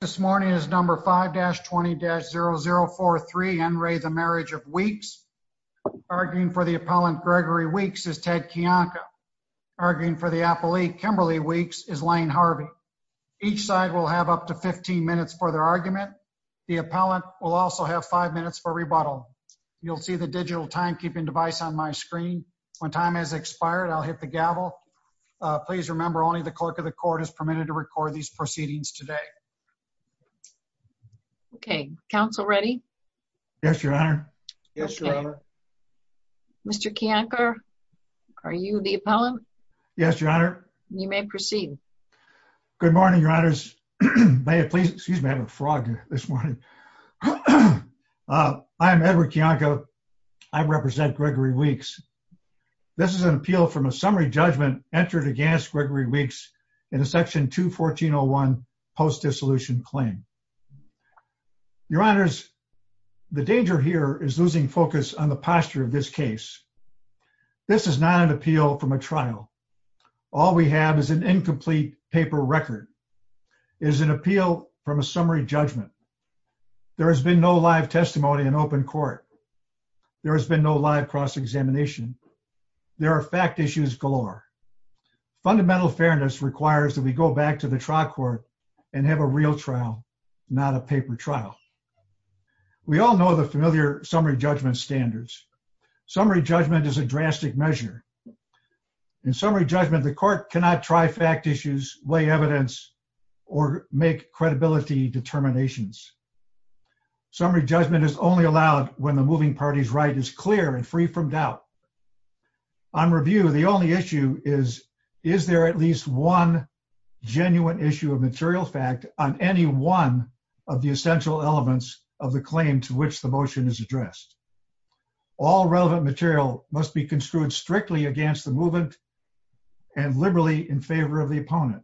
This morning is number 5-20-0043 Enray the Marriage of Weeks. Arguing for the appellant Gregory Weeks is Ted Kiyanka. Arguing for the appellate Kimberly Weeks is Lane Harvey. Each side will have up to 15 minutes for their argument. The appellant will also have 5 minutes for rebuttal. You'll see the digital timekeeping device on my screen. When time has expired I'll hit the gavel. Please remember only the clerk of the court is permitted to record these proceedings today. Okay, counsel ready? Yes, your honor. Yes, your honor. Mr. Kiyanka, are you the appellant? Yes, your honor. You may proceed. Good morning, your honors. May I please, excuse me, I have a frog this morning. I am Edward Kiyanka. I represent Gregory Weeks. This is an appeal from a summary judgment entered against Gregory Weeks in a section 214-01 post-dissolution claim. Your honors, the danger here is losing focus on the posture of this case. This is not an appeal from a trial. All we have is an incomplete paper record. It is an appeal from a summary judgment. There has been no live testimony in open court. There has been no live cross-examination. There are fact issues galore. Fundamental fairness requires that we go back to the trial court and have a real trial, not a paper trial. We all know the familiar summary judgment standards. Summary judgment is a drastic measure. In summary judgment, the court cannot try fact issues, weigh evidence, or make credibility determinations. Summary judgment is only allowed when the moving party's right is clear and free from doubt. On review, the only issue is, is there at least one genuine issue of material fact on any one of the essential elements of the claim to which the motion is addressed? All relevant material must be construed strictly against the movement and liberally in favor of the opponent.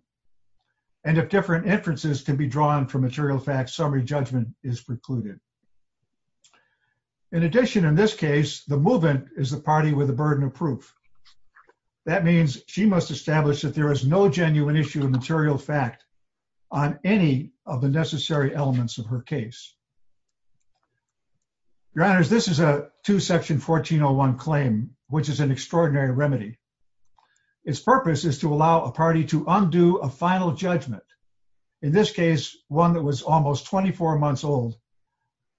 And if different inferences can be drawn from material facts, summary judgment is precluded. In addition, in this case, the movement is the party with a burden of proof. That means she must establish that there is no genuine issue of material fact on any of the necessary elements of her case. Your honors, this is a two section 1401 claim, which is an extraordinary remedy. Its purpose is to allow a party to undo a final judgment. In this case, one that was almost 24 months old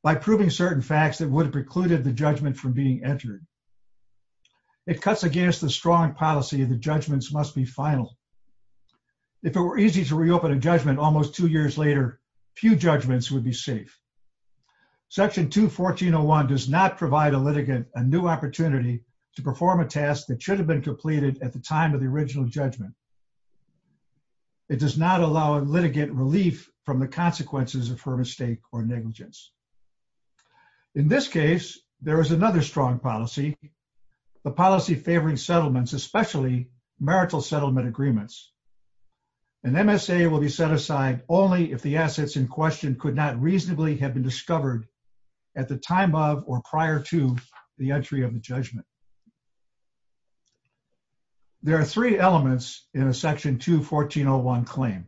by proving certain facts that would have precluded the judgment from being entered. It cuts against the strong policy of the judgments must be final. If it were easy to reopen a judgment, almost two years later, few judgments would be safe. Section two 1401 does not provide a litigant, a new opportunity to perform a task that should have been completed at the time of the original judgment. It does not allow a litigant relief from the consequences of her mistake or negligence. In this case, there is another strong policy. The policy favoring settlements, especially marital settlement agreements. And MSA will be set aside only if the assets in question could not be recovered at the time of, or prior to the entry of the judgment. There are three elements in a section two 1401 claim.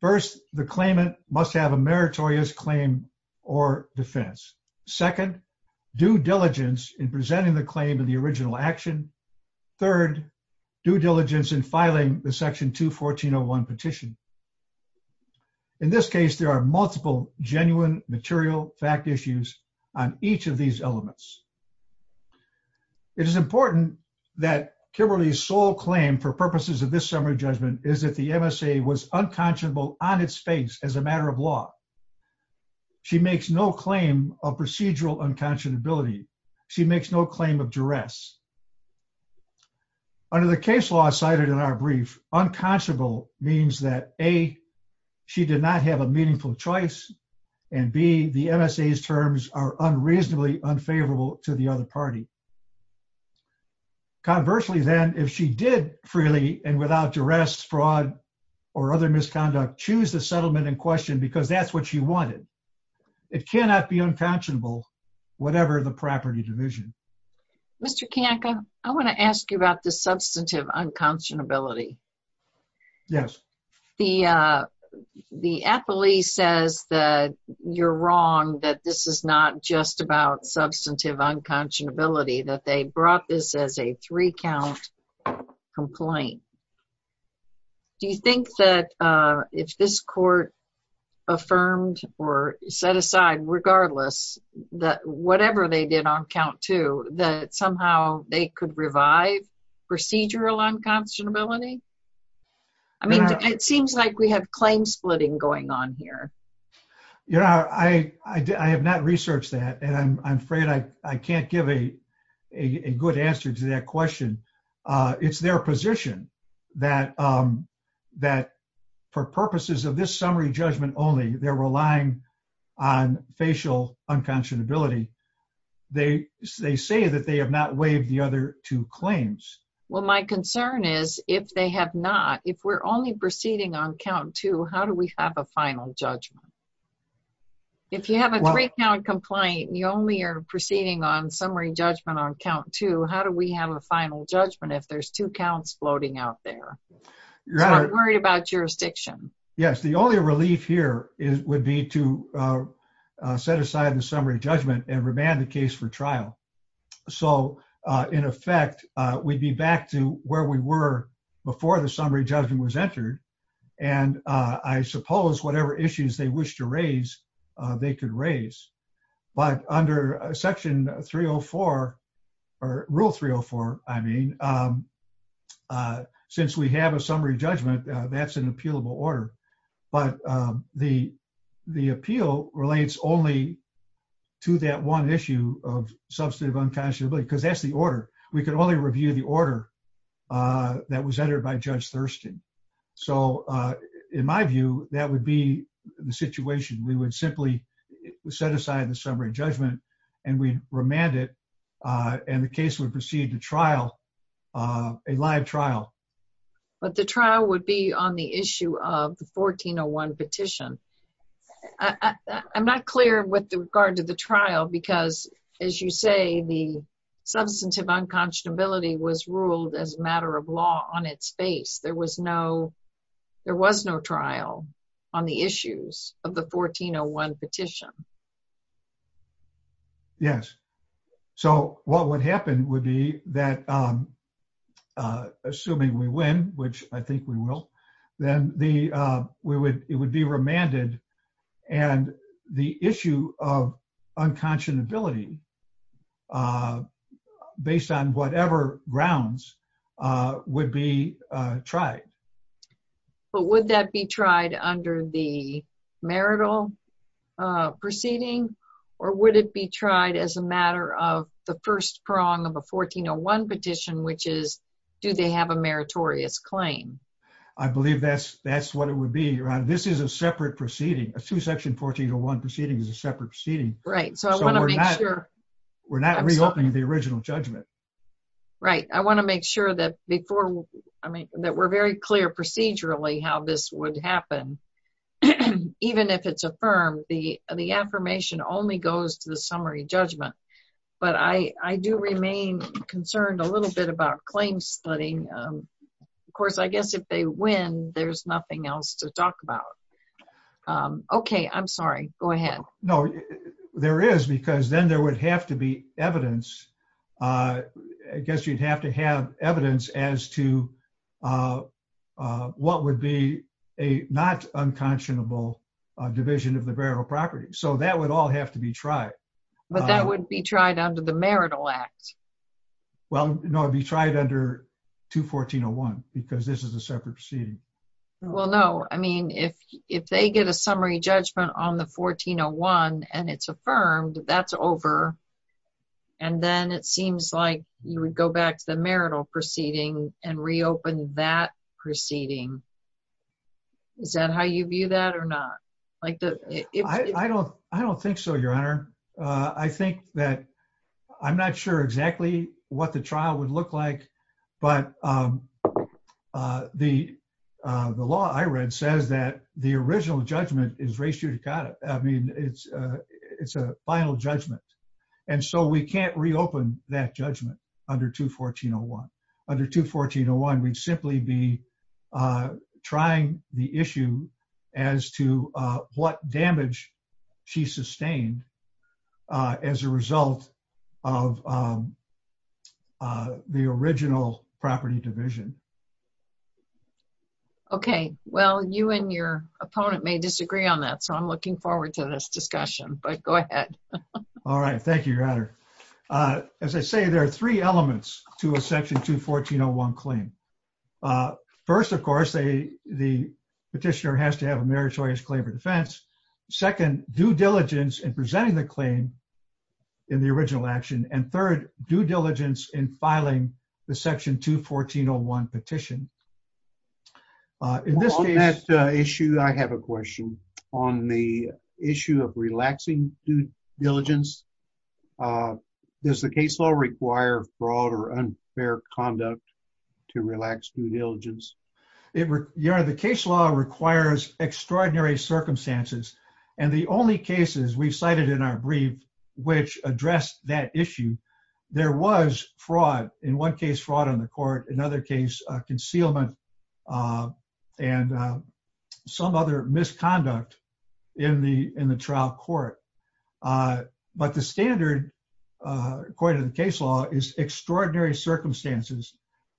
First, the claimant must have a meritorious claim or defense. Second due diligence in presenting the claim of the original action. Third due diligence in filing the section two 1401 petition. In this case, there are multiple genuine material fact issues on each of these elements. It is important that Kimberly's sole claim for purposes of this summary judgment is that the MSA was unconscionable on its face as a matter of law. She makes no claim of procedural unconscionability. She makes no claim of duress. Under the case law cited in our brief, unconscionable means that A, she did not have a meaningful choice and B, the MSA's terms are unreasonably unfavorable to the other party. Conversely, then if she did freely and without duress, fraud, or other misconduct, choose the settlement in question, because that's what she wanted. It cannot be unconscionable, whatever the property division. Mr. Kanka, I want to ask you about the substantive unconscionability. Yes. The appellee says that you're wrong, that this is not just about substantive unconscionability, that they brought this as a three-count complaint. Do you think that if this court affirmed or set aside, regardless, that whatever they did on count two, that somehow they could revive procedural unconscionability? I mean, it seems like we have claim splitting going on here. You know, I have not researched that, and I'm afraid I can't give a good answer to that question. It's their position that for purposes of this summary judgment only, they're relying on facial unconscionability. They say that they have not waived the other two claims. Well, my concern is if they have not, if we're only proceeding on count two, how do we have a final judgment? If you have a three-count complaint and you only are proceeding on summary judgment on count two, how do we have a final judgment if there's two counts floating out there? I'm worried about jurisdiction. Yes, the only relief here would be to set aside the summary judgment and remand the case for trial. So, in effect, we'd be back to where we were before the summary judgment was entered, and I suppose whatever issues they wish to raise, they could raise. But under Section 304, or Rule 304, I mean, since we have a summary judgment, that's an appealable order. But the appeal relates only to that one issue of substantive unconscionability because that's the order. We can only review the order that was entered by Judge Thurston. So, in my view, that would be the situation. We would simply set aside the summary judgment and we'd remand it, and the case would proceed to trial, a live trial. But the trial would be on the issue of the 1401 petition. I'm not clear with regard to the trial because, as you say, the substantive unconscionability was ruled as a matter of law on its face. There was no trial on the issues of the 1401 petition. Yes. So, what would happen would be that, assuming we win, which I think we will, then it would be remanded, and the issue of unconscionability, based on whatever grounds, would be tried. But would that be tried under the marital proceeding, or would it be tried as a matter of the first prong of a 1401 petition, which is, do they have a meritorious claim? I believe that's what it would be, Ron. This is a separate proceeding. A two-section 1401 proceeding is a separate proceeding. Right. So, I want to make sure. We're not reopening the original judgment. Right. I want to make sure that we're very clear procedurally how this would happen. Even if it's affirmed, the affirmation only goes to the summary judgment. But I do remain concerned a little bit about claim studying. Of course, I guess if they win, there's nothing else to talk about. Okay. I'm sorry. Go ahead. I guess you'd have to have evidence as to what would be a not unconscionable division of the burial property. So, that would all have to be tried. But that would be tried under the marital act. Well, no. It would be tried under 21401, because this is a separate proceeding. Well, no. I mean, if they get a summary judgment on the 1401 and it's affirmed, that's over. And then it seems like you would go back to the marital proceeding and reopen that proceeding. Is that how you view that or not? I don't think so, Your Honor. I think that I'm not sure exactly what the trial would look like. But the law I read says that the original judgment is res judicata. I mean, it's a final judgment. And so, we can't reopen that judgment under 21401. Under 21401, we'd simply be trying the issue as to what damage she sustained as a result of the original property division. Okay. Well, you and your opponent may disagree on that. So, I'm looking forward to this discussion. But go ahead. All right. Thank you, Your Honor. As I say, there are three elements to a section 21401 claim. First, of course, the petitioner has to have a meritorious claim for defense. Second, due diligence in presenting the claim in the original action. And third, due diligence in filing the section 21401 petition. On that issue, I have a question. On the issue of relaxing due diligence, does the case law require fraud or unfair conduct to relax due diligence? Your Honor, the case law requires extraordinary circumstances. And the only cases we've cited in our brief which address that issue, there was fraud. In one case, fraud on the court. In another case, concealment and some other misconduct in the trial court. But the standard, according to the case law, is extraordinary circumstances.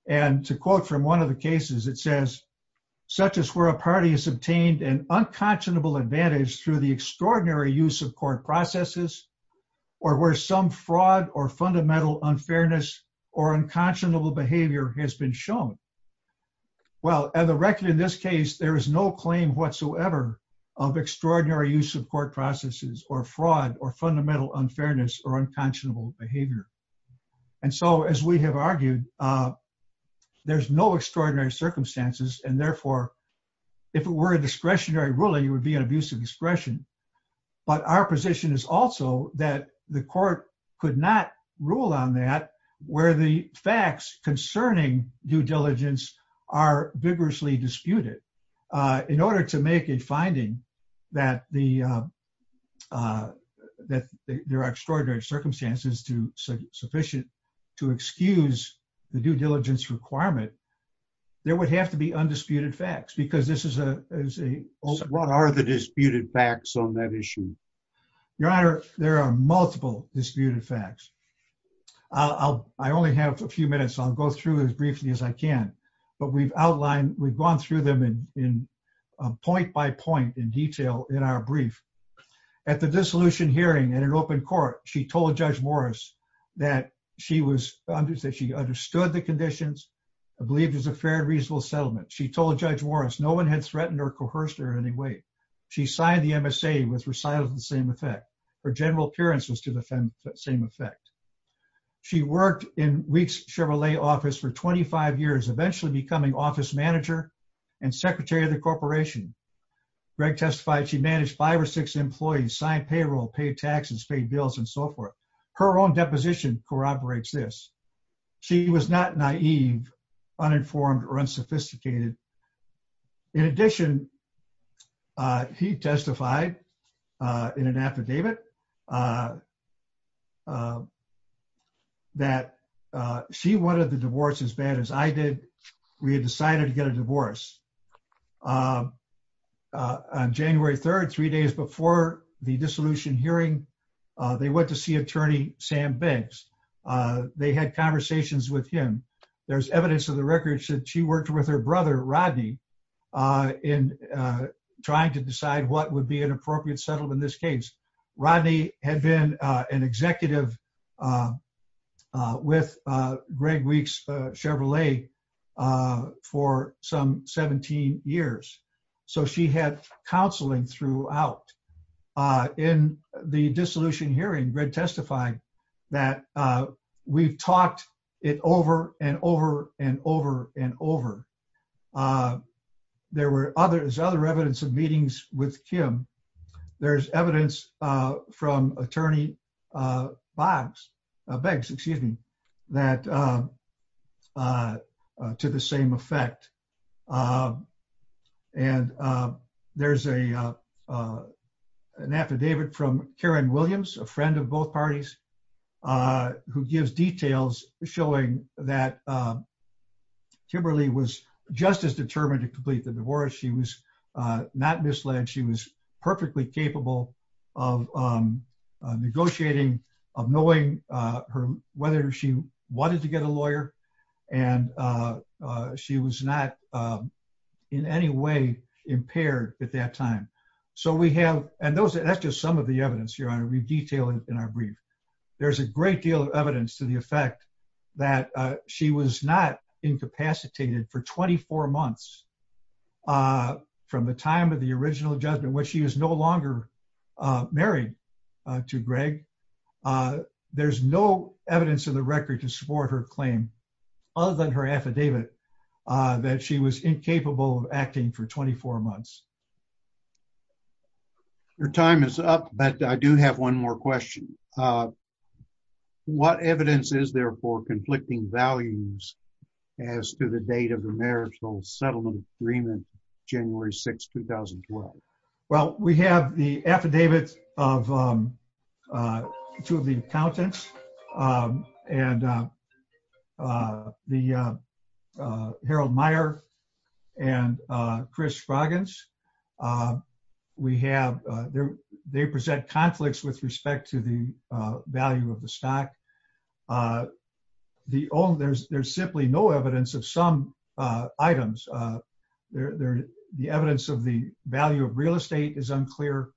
And to quote from one of the cases, it says, such as where a party has obtained an unconscionable advantage through the extraordinary use of court processes or where some fraud or fundamental unfairness or unconscionable behavior has been shown. Well, at the record in this case, there is no claim whatsoever of extraordinary use of court processes or fraud or fundamental unfairness or unconscionable behavior. And so, as we have argued, there's no extraordinary circumstances. And therefore, if it were a discretionary ruling, it would be an abusive discretion. But our position is also that the court could not rule on that where the facts concerning due diligence are vigorously disputed. In order to make a finding that there are extraordinary circumstances sufficient to excuse the due diligence requirement, there would have to be undisputed facts. What are the disputed facts on that issue? Your Honor, there are multiple disputed facts. I only have a few minutes. I'll go through as briefly as I can. But we've gone through them point by point in detail in our brief. At the dissolution hearing in an open court, she told Judge Morris that she understood the conditions, believed it was a fair and reasonable settlement. She told Judge Morris no one had threatened or coerced her in any way. She signed the MSA with recital of the same effect. Her general appearance was to the same effect. She worked in Wheat's Chevrolet office for 25 years, eventually becoming office manager and secretary of the corporation. Greg testified she managed five or six employees, signed payroll, paid taxes, paid bills, and so forth. Her own deposition corroborates this. She was not naive, uninformed, or unsophisticated. In addition, he testified in an affidavit that she wanted the divorce as bad as I did. We had decided to get a divorce. On January 3rd, three days before the dissolution hearing, they went to see attorney Sam Banks. They had conversations with him. There's evidence in the records that she worked with her brother, Rodney, in trying to decide what would be an appropriate settlement in this case. Rodney had been an executive with Greg Wheat's Chevrolet for some 17 years, so she had counseling throughout. In the dissolution hearing, Greg testified that we've talked it over and over and over and over. There's other evidence of meetings with Kim. There's evidence from attorney Banks to the same effect. There's an affidavit from Karen Williams, a friend of both parties, who gives details showing that Kimberly was just as determined to complete the divorce. She was not misled. She was perfectly capable of negotiating, and she was not in any way impaired at that time. That's just some of the evidence, Your Honor. We've detailed it in our brief. There's a great deal of evidence to the effect that she was not incapacitated for 24 months from the time of the original judgment, when she was no longer married to Greg. There's no evidence in the record to support her claim, other than her affidavit, that she was incapable of acting for 24 months. Your time is up, but I do have one more question. What evidence is there for conflicting values as to the date of the marital settlement agreement, January 6, 2012? Well, we have the affidavit of two of the accountants, and Harold Meyer and Chris Froggins. They present conflicts with respect to the value of the stock. There's simply no evidence of some items. The evidence of the value of real estate is unclear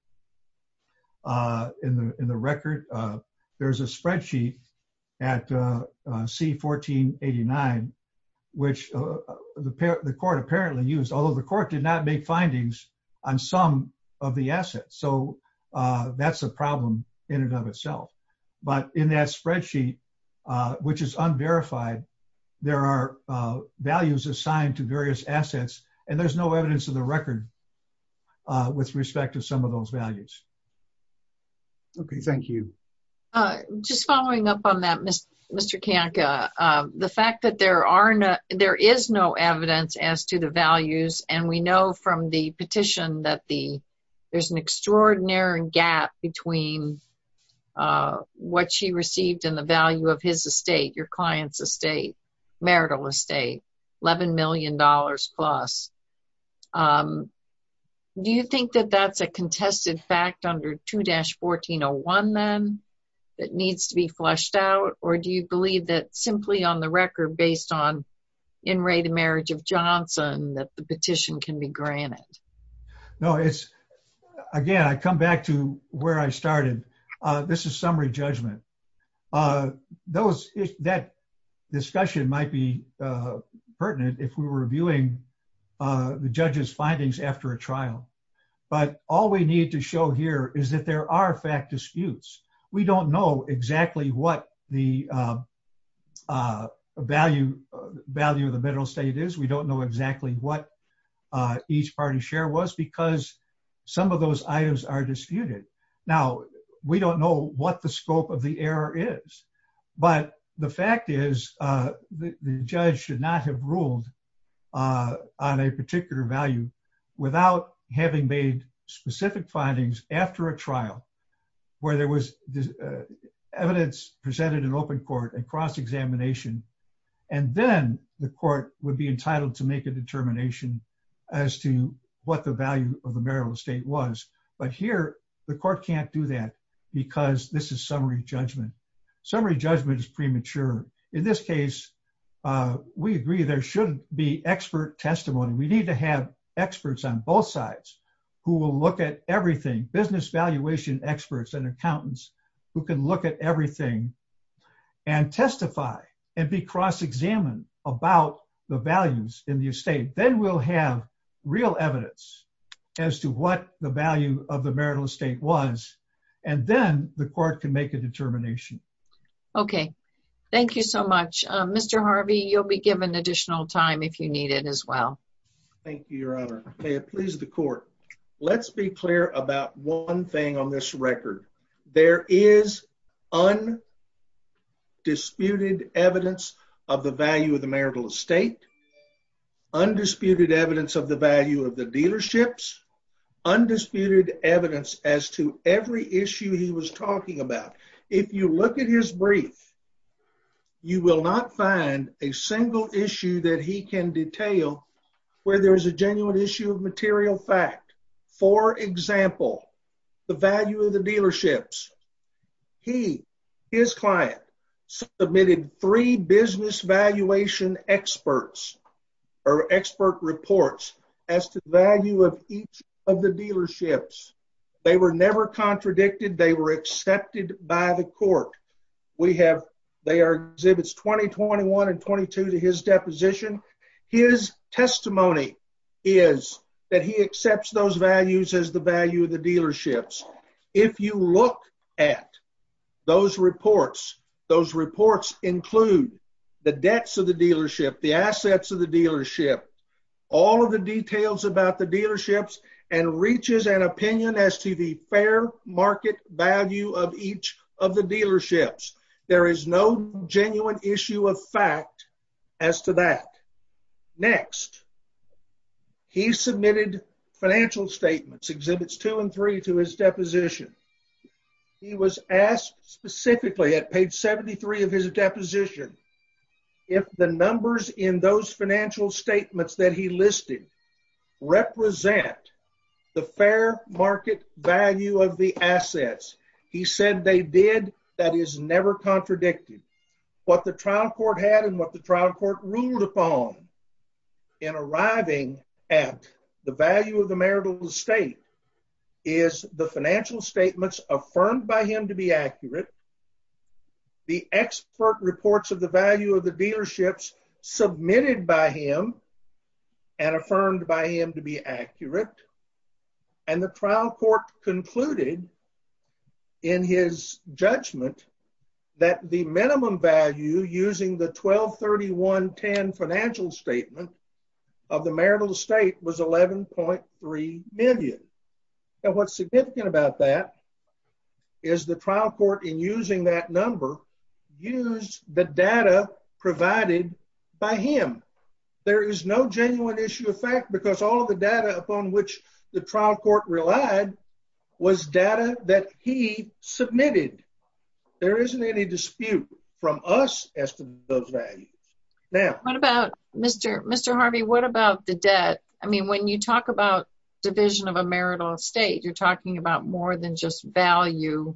in the record. There's a spreadsheet at C1489, which the court apparently used, although the court did not make findings on some of the assets. So that's a problem in and of itself. But in that spreadsheet, which is unverified, there are values assigned to various assets, and there's no evidence in the record with respect to some of those values. Okay, thank you. Just following up on that, Mr. Kanka, the fact that there is no evidence as to the values, and we know from the petition that there's an extraordinary gap between what she received and the value of his estate, your client's estate, marital estate, $11 million plus, do you think that that's a contested fact under 2-1401, then, that needs to be flushed out? Or do you believe that simply on the record, based on in re the marriage of Johnson, that the petition can be granted? No, it's, again, I come back to where I started. This is summary judgment. That discussion might be pertinent if we were reviewing the judge's findings after a trial. But all we need to show here is that there are fact disputes. We don't know exactly what the value of the marital estate is. We don't know exactly what each party's share was because some of those items are disputed. Now, we don't know what the scope of the error is, but the fact is the judge should not have ruled on a particular value without having made specific findings after a trial where there was evidence presented in open court and cross-examination, and then the court would be entitled to make a determination as to what the value of the marital estate was. But here, the court can't do that because this is summary judgment. Summary judgment is premature. In this case, we agree there should be expert testimony. We need to have experts on both sides who will look at everything, business valuation experts and accountants who can look at everything and testify and be cross-examined about the values in the estate. Then we'll have real evidence as to what the value of the marital estate was, and then the court can make a determination. Okay. Thank you so much. Mr. Harvey, you'll be given additional time if you need it as well. Thank you, Your Honor. May it please the court. Let's be clear about one thing on this record. There is undisputed evidence of the value of the marital estate. Undisputed evidence of the value of the dealerships. Undisputed evidence as to every issue he was talking about. If you look at his brief, you will not find a single issue that he can detail where there is a genuine issue of material fact. For example, the value of the dealerships. He, his client, submitted three business valuation experts or expert reports as to the value of each of the dealerships. They were never contradicted. They were accepted by the court. They are exhibits 2021 and 22 to his deposition. His testimony is that he accepts those values as the value of the dealerships. If you look at those reports, those reports include the debts of the dealership, the assets of the dealership, all of the details about the dealerships and reaches an opinion as to the fair market value of each of the dealerships. There is no genuine issue of fact as to that. Next, he submitted financial statements, exhibits two and three to his deposition. He was asked specifically at page 73 of his deposition. If the numbers in those financial statements that he listed represent the fair market value of the assets, he said they did. That is never contradicted what the trial court had and what the trial court ruled upon in arriving at the value of the marital estate is the financial statements affirmed by him to be accurate. The expert reports of the value of the dealerships submitted by him and affirmed by him to be accurate. And the trial court concluded in his judgment that the minimum value using the 123110 financial statement of the marital estate was 11.3 million. And what's significant about that is the trial court in using that number used the data provided by him. There is no genuine issue of fact because all of the data upon which the trial court relied was data that he submitted. There isn't any dispute from us as to those values. Now- What about, Mr. Harvey, what about the debt? I mean, when you talk about division of a marital estate, you're talking about more than just value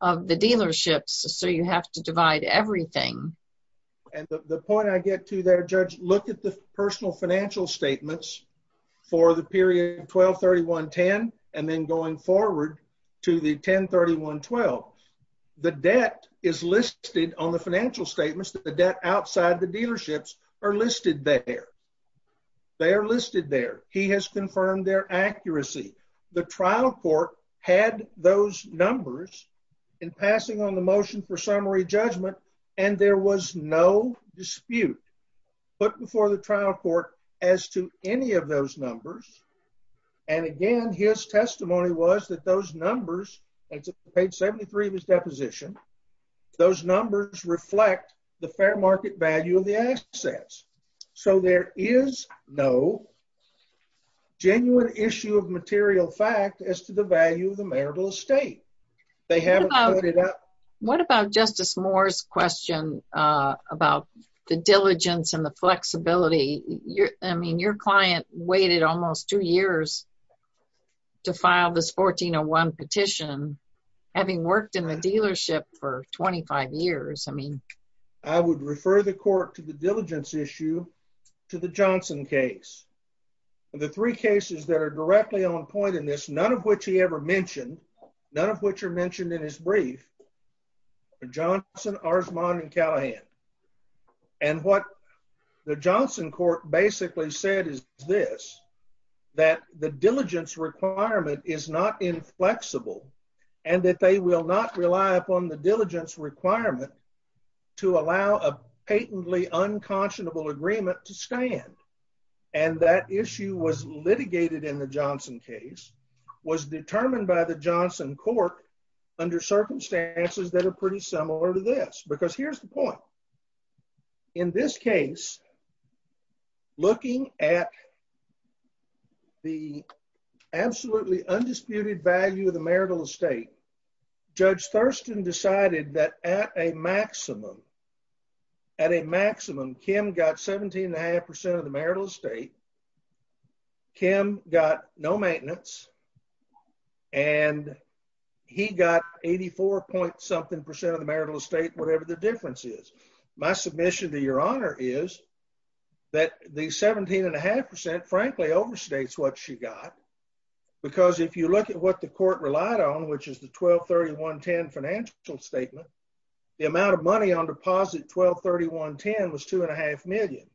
of the dealerships, so you have to divide everything. And the point I get to there, Judge, look at the personal financial statements for the period 123110 and then going forward to the 103112. The debt is listed on the financial statements that the debt outside the dealerships are listed there. They are listed there. He has confirmed their accuracy. The trial court had those numbers in passing on the motion for summary judgment and there was no dispute put before the trial court as to any of those numbers. And again, his testimony was that those numbers, page 73 of his deposition, those numbers reflect the fair market value of the assets. So there is no genuine issue of material fact as to the value of the marital estate. They haven't put it up. What about Justice Moore's question about the diligence and the flexibility? I mean, your client waited almost two years to file this 1401 petition, having worked in the dealership for 25 years. I mean, I would refer the court to the diligence issue to the Johnson case. The three cases that are directly on point in this, none of which he ever mentioned, none of which are mentioned in his brief, Johnson, Arzmon and Callahan. And what the Johnson court basically said is this, that the diligence requirement is not inflexible and that they will not rely upon the diligence requirement to allow a patently unconscionable agreement to stand. And that issue was litigated in the Johnson case, was determined by the Johnson court under circumstances that are pretty similar to this, because here's the point in this case, looking at the absolutely undisputed value of the marital estate, judge Thurston decided that at a maximum, at a maximum, Kim got 17 and a half percent of the marital estate. Kim got no maintenance and he got 84 point something percent of the marital estate, whatever the difference is. My submission to your honor is that the 17 and a half percent, frankly overstates what she got, because if you look at what the court relied on, which is the 1231 10 financial statement, the amount of money on deposit, 1231 10 was two and a half million.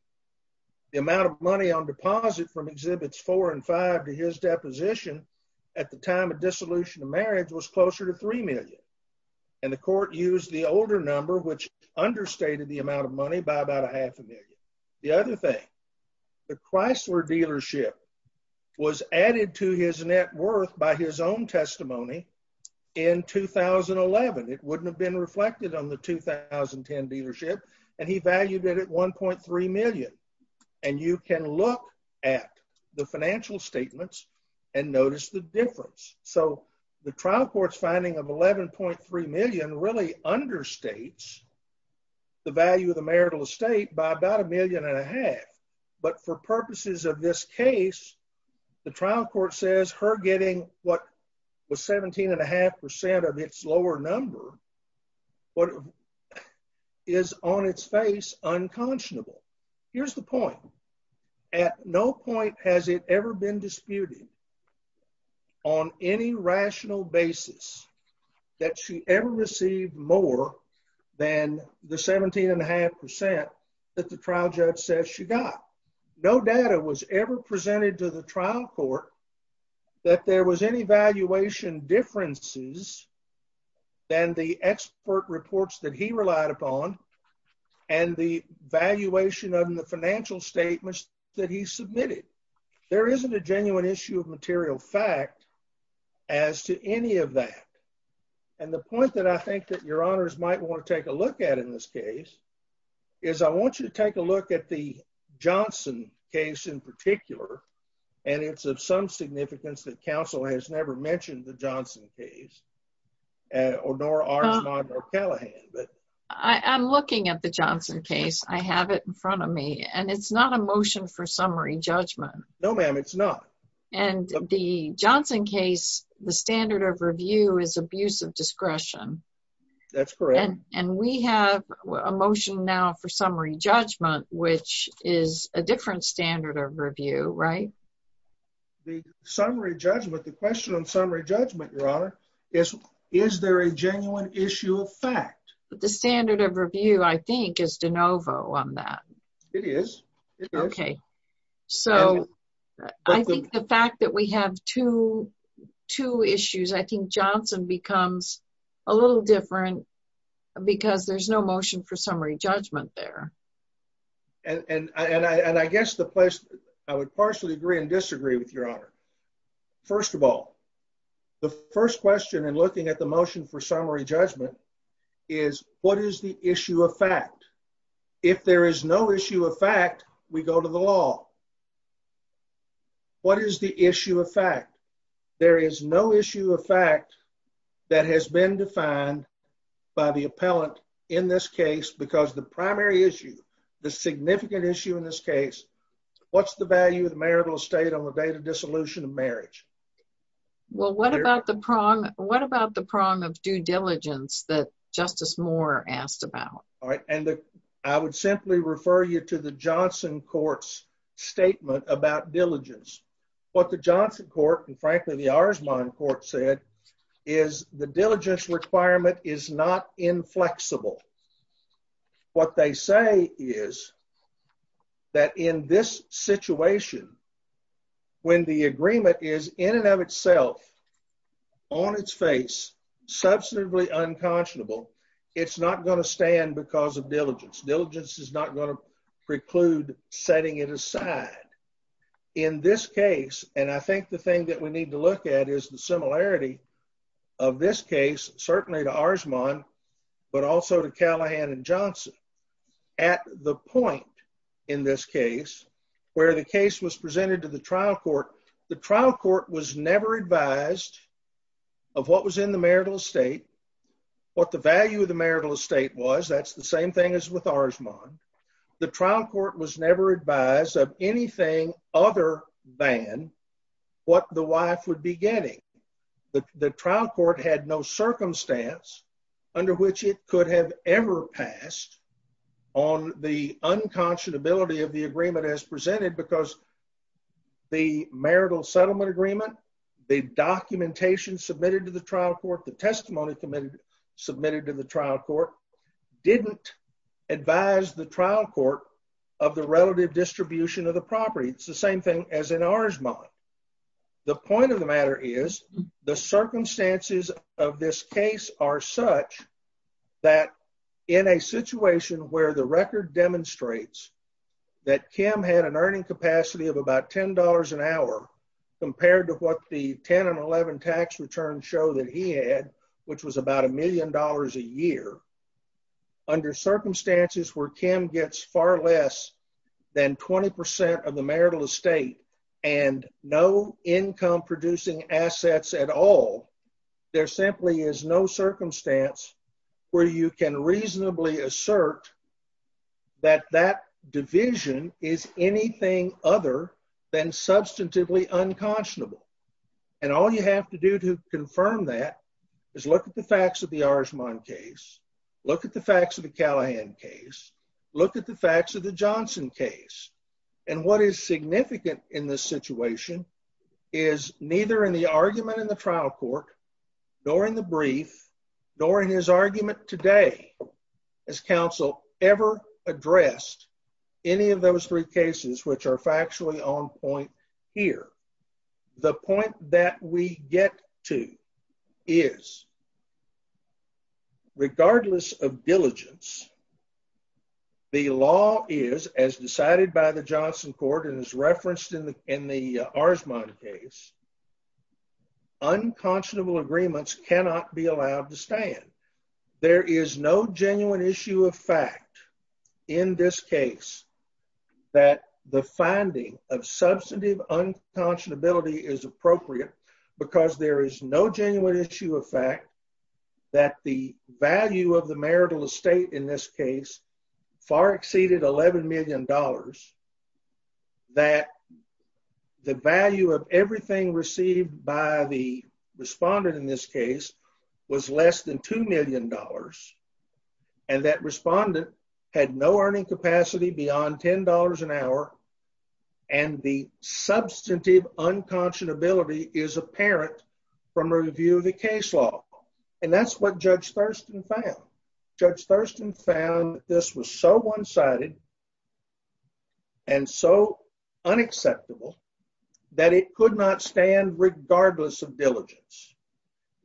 The amount of money on deposit from exhibits four and five to his deposition at the time of dissolution of marriage was closer to 3 million. And the court used the older number, which understated the amount of money by about a half a million. The other thing, the Chrysler dealership was added to his net worth by his own testimony in 2011. It wouldn't have been reflected on the 2010 dealership. And he valued it at 1.3 million. And you can look at the financial statements and notice the difference. So the trial court's finding of 11.3 million really understates the value of the marital estate by about a million and a half. But for purposes of this case, the trial court says her getting what was 17 and a half percent of its lower number is on its face unconscionable. Here's the point. At no point has it ever been disputed on any rational basis that she ever received more than the 17 and a half percent that the trial judge says she got. No data was ever presented to the trial court that there was any valuation differences than the expert reports that he relied upon and the valuation of the financial statements that he submitted. There isn't a genuine issue of material fact as to any of that. And the point that I think that your honors might want to take a look at in this case is I want you to take a look at the Johnson case in particular, and it's of some significance that counsel has never mentioned the Johnson case nor ours, nor Callahan. I'm looking at the Johnson case. I have it in front of me and it's not a motion for summary judgment. No, ma'am, it's not. And the Johnson case, the standard of review is abuse of discretion. That's correct. And we have a motion now for summary judgment, which is a different standard of review, right? The summary judgment, the question on summary judgment, your honor, is there a genuine issue of fact? The standard of review, I think, is de novo on that. It is. Okay. So I think the fact that we have two issues, I think Johnson becomes a little different because there's no motion for summary judgment. And I, and I, and I guess the place, I would partially agree and disagree with your honor. First of all, the first question and looking at the motion for summary judgment is what is the issue of fact? If there is no issue of fact, we go to the law. What is the issue of fact? There is no issue of fact that has been defined by the appellant in this case. And the second question is what is the value of marital estate on the date of dissolution of marriage? Well, what about the prong? What about the prong of due diligence that justice Moore asked about? All right. And I would simply refer you to the Johnson court's statement about diligence. What the Johnson court, and frankly, the ours, mine court said is the diligence requirement is not inflexible. What they say is that in this situation, when the agreement is in and of itself on its face, substantively unconscionable, it's not going to stand because of diligence diligence is not going to preclude setting it aside in this case. And I think the thing that we need to look at is the similarity of this case, certainly to ours, mine, but also to Callahan and Johnson at the point. In this case where the case was presented to the trial court, the trial court was never advised of what was in the marital estate, what the value of the marital estate was. That's the same thing as with ours, mine. The trial court was never advised of anything other than what the wife would be getting. The trial court had no circumstance under which it could have ever passed on the unconscionability of the agreement as presented because the marital settlement agreement, the documentation submitted to the trial court, the testimony committed, submitted to the trial court didn't advise the trial court of the relative distribution of the property. It's the same thing as in ours, mine. The point of the matter is the circumstances of this case are such that in a situation where the record demonstrates that Kim had an earning capacity of about $10 an hour compared to what the 10 and 11 tax returns show that he had, which was about a million dollars a year under circumstances where Kim gets far less than 20% of the marital estate and no income producing assets at all. There simply is no circumstance where you can reasonably assert that that division is anything other than substantively unconscionable. And all you have to do to confirm that is look at the facts of the ours, mine case, look at the facts of the Callahan case, look at the facts of the Johnson case. And what is significant in this situation is neither in the argument in the trial court, nor in the brief, nor in his argument today, as council ever addressed any of those three cases, which are factually on point here, the point that we get to is regardless of diligence, the law is as decided by the Johnson court and is referenced in the, in the ours, mine case, unconscionable agreements cannot be allowed to stand. There is no genuine issue of fact in this case that the finding of unconscionability is appropriate because there is no genuine issue of fact that the value of the marital estate in this case far exceeded $11 million that the value of everything received by the respondent in this case was less than $2 million. And that respondent had no earning capacity beyond $10 an hour. And the substantive unconscionability is apparent from a review of the case law. And that's what judge Thurston found. Judge Thurston found this was so one sided and so unacceptable that it could not stand regardless of diligence.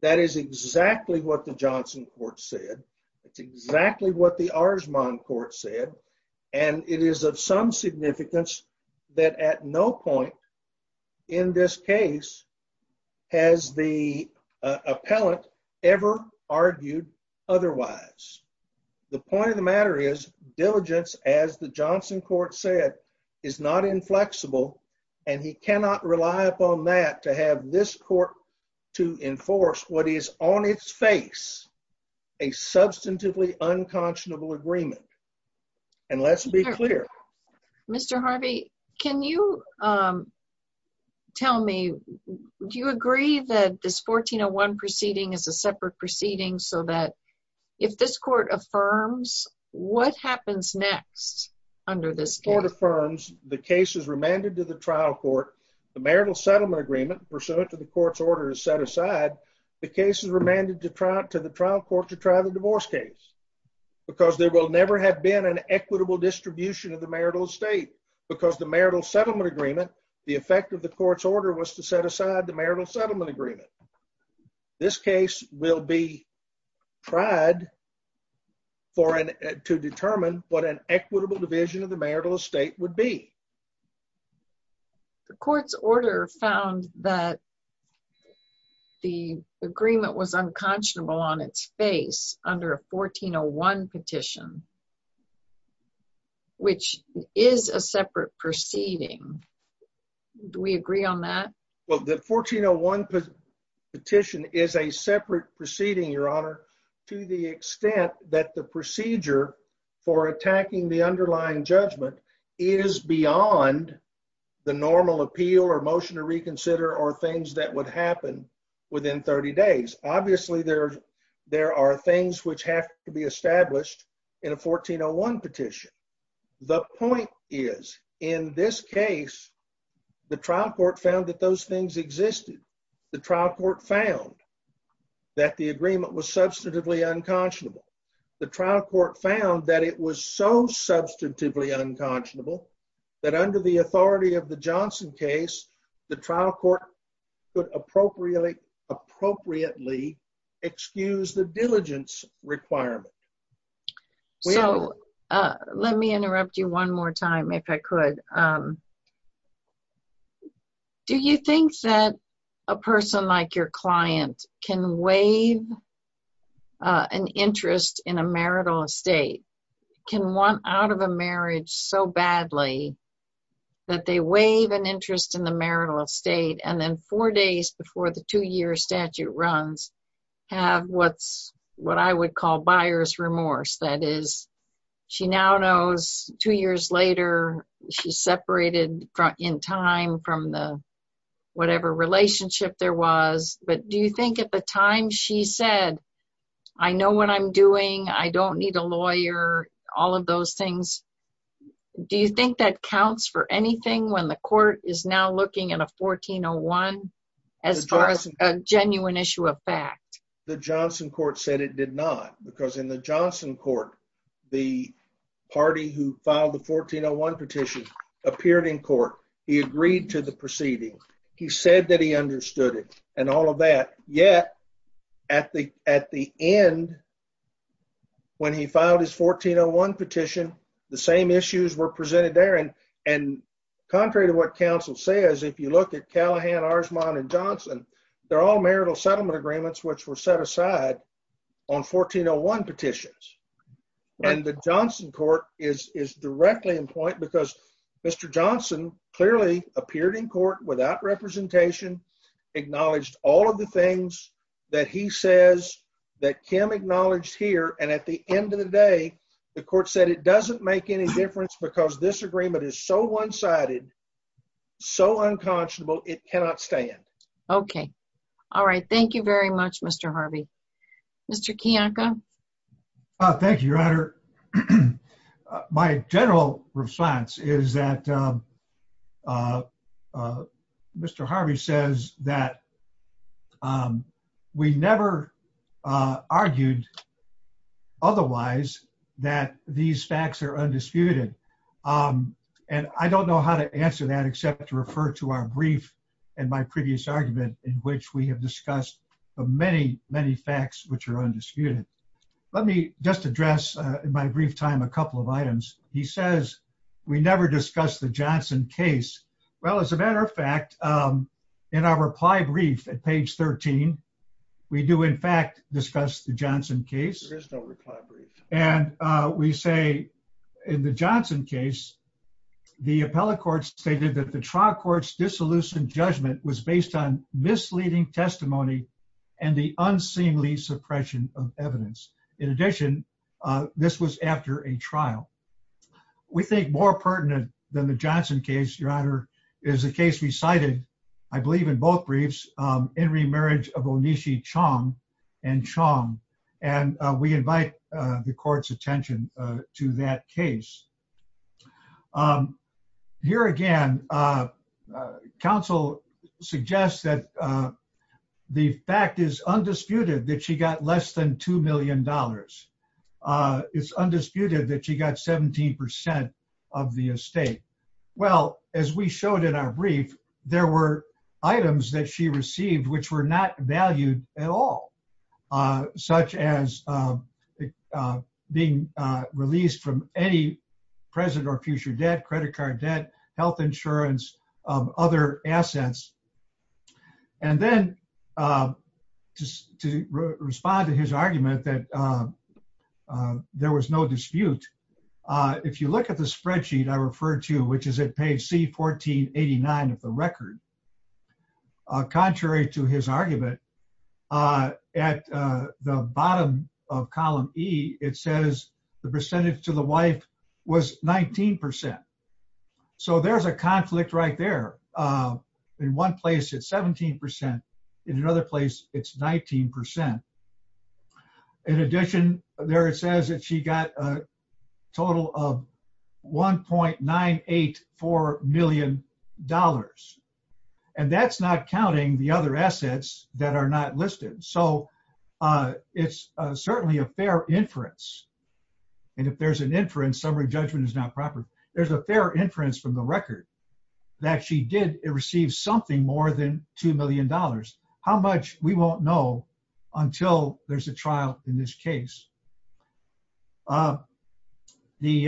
That is exactly what the Johnson court said. That's exactly what the ours mine court said. And it is of some significance that at no point in this case has the appellant ever argued otherwise. The point of the matter is diligence as the Johnson court said is not inflexible and he cannot rely upon that to have this court to enforce what is on its face a substantively unconscionable agreement. And let's be clear. Mr. Harvey, can you tell me, do you agree that this 1401 proceeding is a separate proceeding so that if this court affirms what happens next under this court affirms the cases remanded to the trial court, the marital settlement agreement pursuant to the court's order is set aside. The cases remanded to try to the trial court to try the divorce case because there will never have been an equitable distribution of the marital estate because the marital settlement agreement, the effect of the court's order was to set aside the marital settlement agreement. This case will be tried for an, to determine what an equitable division of the marital estate would be. Okay. The court's order found that the agreement was unconscionable on its face under a 1401 petition, which is a separate proceeding. Do we agree on that? Well, the 1401 petition is a separate proceeding, Your Honor, to the extent that the procedure for attacking the underlying judgment is beyond the normal appeal or motion to reconsider or things that would happen within 30 days. Obviously there, there are things which have to be established in a 1401 petition. The point is in this case, the trial court found that those things existed. The trial court found that the agreement was substantively unconscionable. The trial court found that it was so substantively unconscionable that it would not be acceptable to the court that under the authority of the Johnson case, the trial court could appropriately, appropriately excuse the diligence requirement. So let me interrupt you one more time, if I could. Do you think that a person like your client can waive an interest in a marital estate, can want out of a marriage so badly that they waive an interest in the marital estate and then four days before the two year statute runs have what's what I would call buyer's remorse. That is, she now knows two years later, she separated in time from the whatever relationship there was. But do you think at the time she said, I know what I'm doing, I don't need a lawyer, all of those things. Do you think that counts for anything when the court is now looking at a 1401 as far as a genuine issue of fact, the Johnson court said it did not because in the Johnson court, the party who filed the 1401 petition appeared in court. He agreed to the proceeding. He said that he understood it and all of that. Yet at the, at the end when he filed his 1401 petition, the same issues were presented there. And, and contrary to what counsel says, if you look at Callahan, Arzmon and Johnson, they're all marital settlement agreements, which were set aside on 1401 petitions. And the Johnson court is, is directly in point because Mr. Johnson clearly appeared in court without representation, acknowledged all of the things that he says that Kim acknowledged here. And at the end of the day, the court said it doesn't make any difference because this agreement is so one-sided, so unconscionable, it cannot stand. Okay. All right. Thank you very much, Mr. Harvey, Mr. Kiyonko. Thank you. Senator, my general response is that Mr. Harvey says that we never argued otherwise that these facts are undisputed. And I don't know how to answer that except to refer to our brief and my previous argument in which we have discussed the many, many facts, which are undisputed. Let me just address in my brief time, a couple of items. He says, we never discussed the Johnson case. Well, as a matter of fact, in our reply brief at page 13, we do in fact discuss the Johnson case. And we say in the Johnson case, the appellate court stated that the trial court's disillusioned judgment was in the absence of evidence. In addition, this was after a trial. We think more pertinent than the Johnson case, your honor, is the case we cited, I believe in both briefs, in remarriage of Onishi Chong and Chong. And we invite the court's attention to that case. Here again, counsel suggests that the fact is undisputed that she got less than $1 billion. It's undisputed that she got 17% of the estate. Well, as we showed in our brief, there were items that she received, which were not valued at all, such as being released from any present or future debt, credit card debt, health insurance, other assets. And then just to respond to his argument that there was no dispute. If you look at the spreadsheet I referred to, which is at page C 1489 of the record, contrary to his argument at the bottom of column E, it says the percentage to the wife was 19%. So there's a conflict right there. In one place, it's 17%. In another place, it's 19%. In addition there, it says that she got a total of $1.984 million. And that's not counting the other assets that are not listed. So it's certainly a fair inference. And if there's an inference, the summary judgment is not proper. There's a fair inference from the record that she did receive something more than $2 million. How much we won't know until there's a trial in this case. The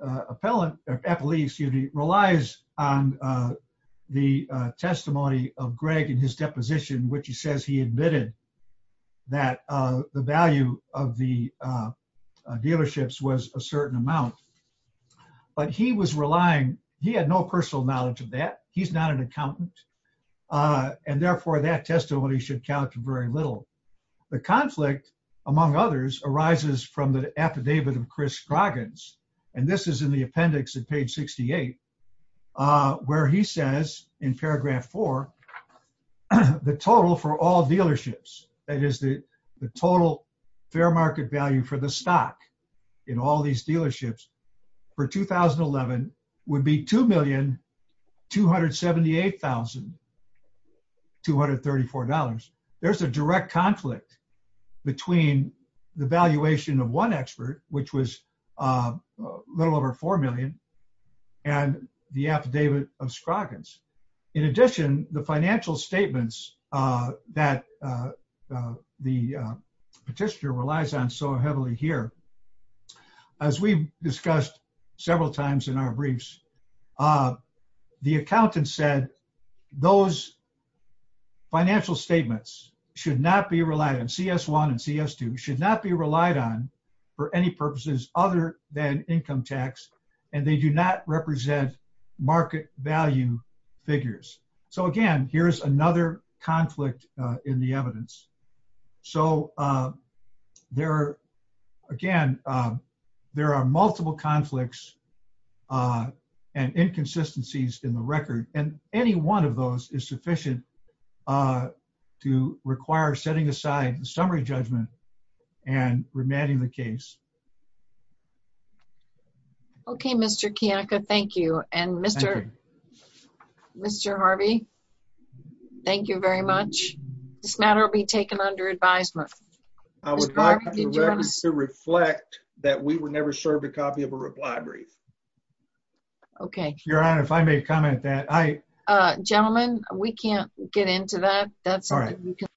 appellate relies on the testimony of Greg and his deposition, which he says he admitted that the value of the, the dealerships was a certain amount, but he was relying, he had no personal knowledge of that. He's not an accountant. And therefore that testimony should count very little. The conflict among others arises from the affidavit of Chris Scroggins. And this is in the appendix at page 68 where he says in paragraph four, the total for all dealerships, that is the total fair market value for the stock in all these dealerships for 2011 would be $2,278,234. There's a direct conflict between the valuation of one expert, which was a little over 4 million and the affidavit of Scroggins. In addition, the financial statements that the petitioner relies on so heavily here, as we discussed several times in our briefs, the accountant said those financial statements should not be relied on CS1 and CS2 should not be relied on for any purposes other than income tax. And they do not represent market value figures. So again, here's another conflict in the evidence. So there again, there are multiple conflicts and inconsistencies in the record. And any one of those is sufficient to require setting aside the summary judgment and remanding the case. Okay. Mr. Kiyaka. Thank you. And Mr. Mr. Harvey, thank you very much. This matter will be taken under advisement. I would like to reflect that we were never served a copy of a reply brief. Okay. Your Honor, if I may comment that I, uh, gentlemen, we can't get into that. That's all right.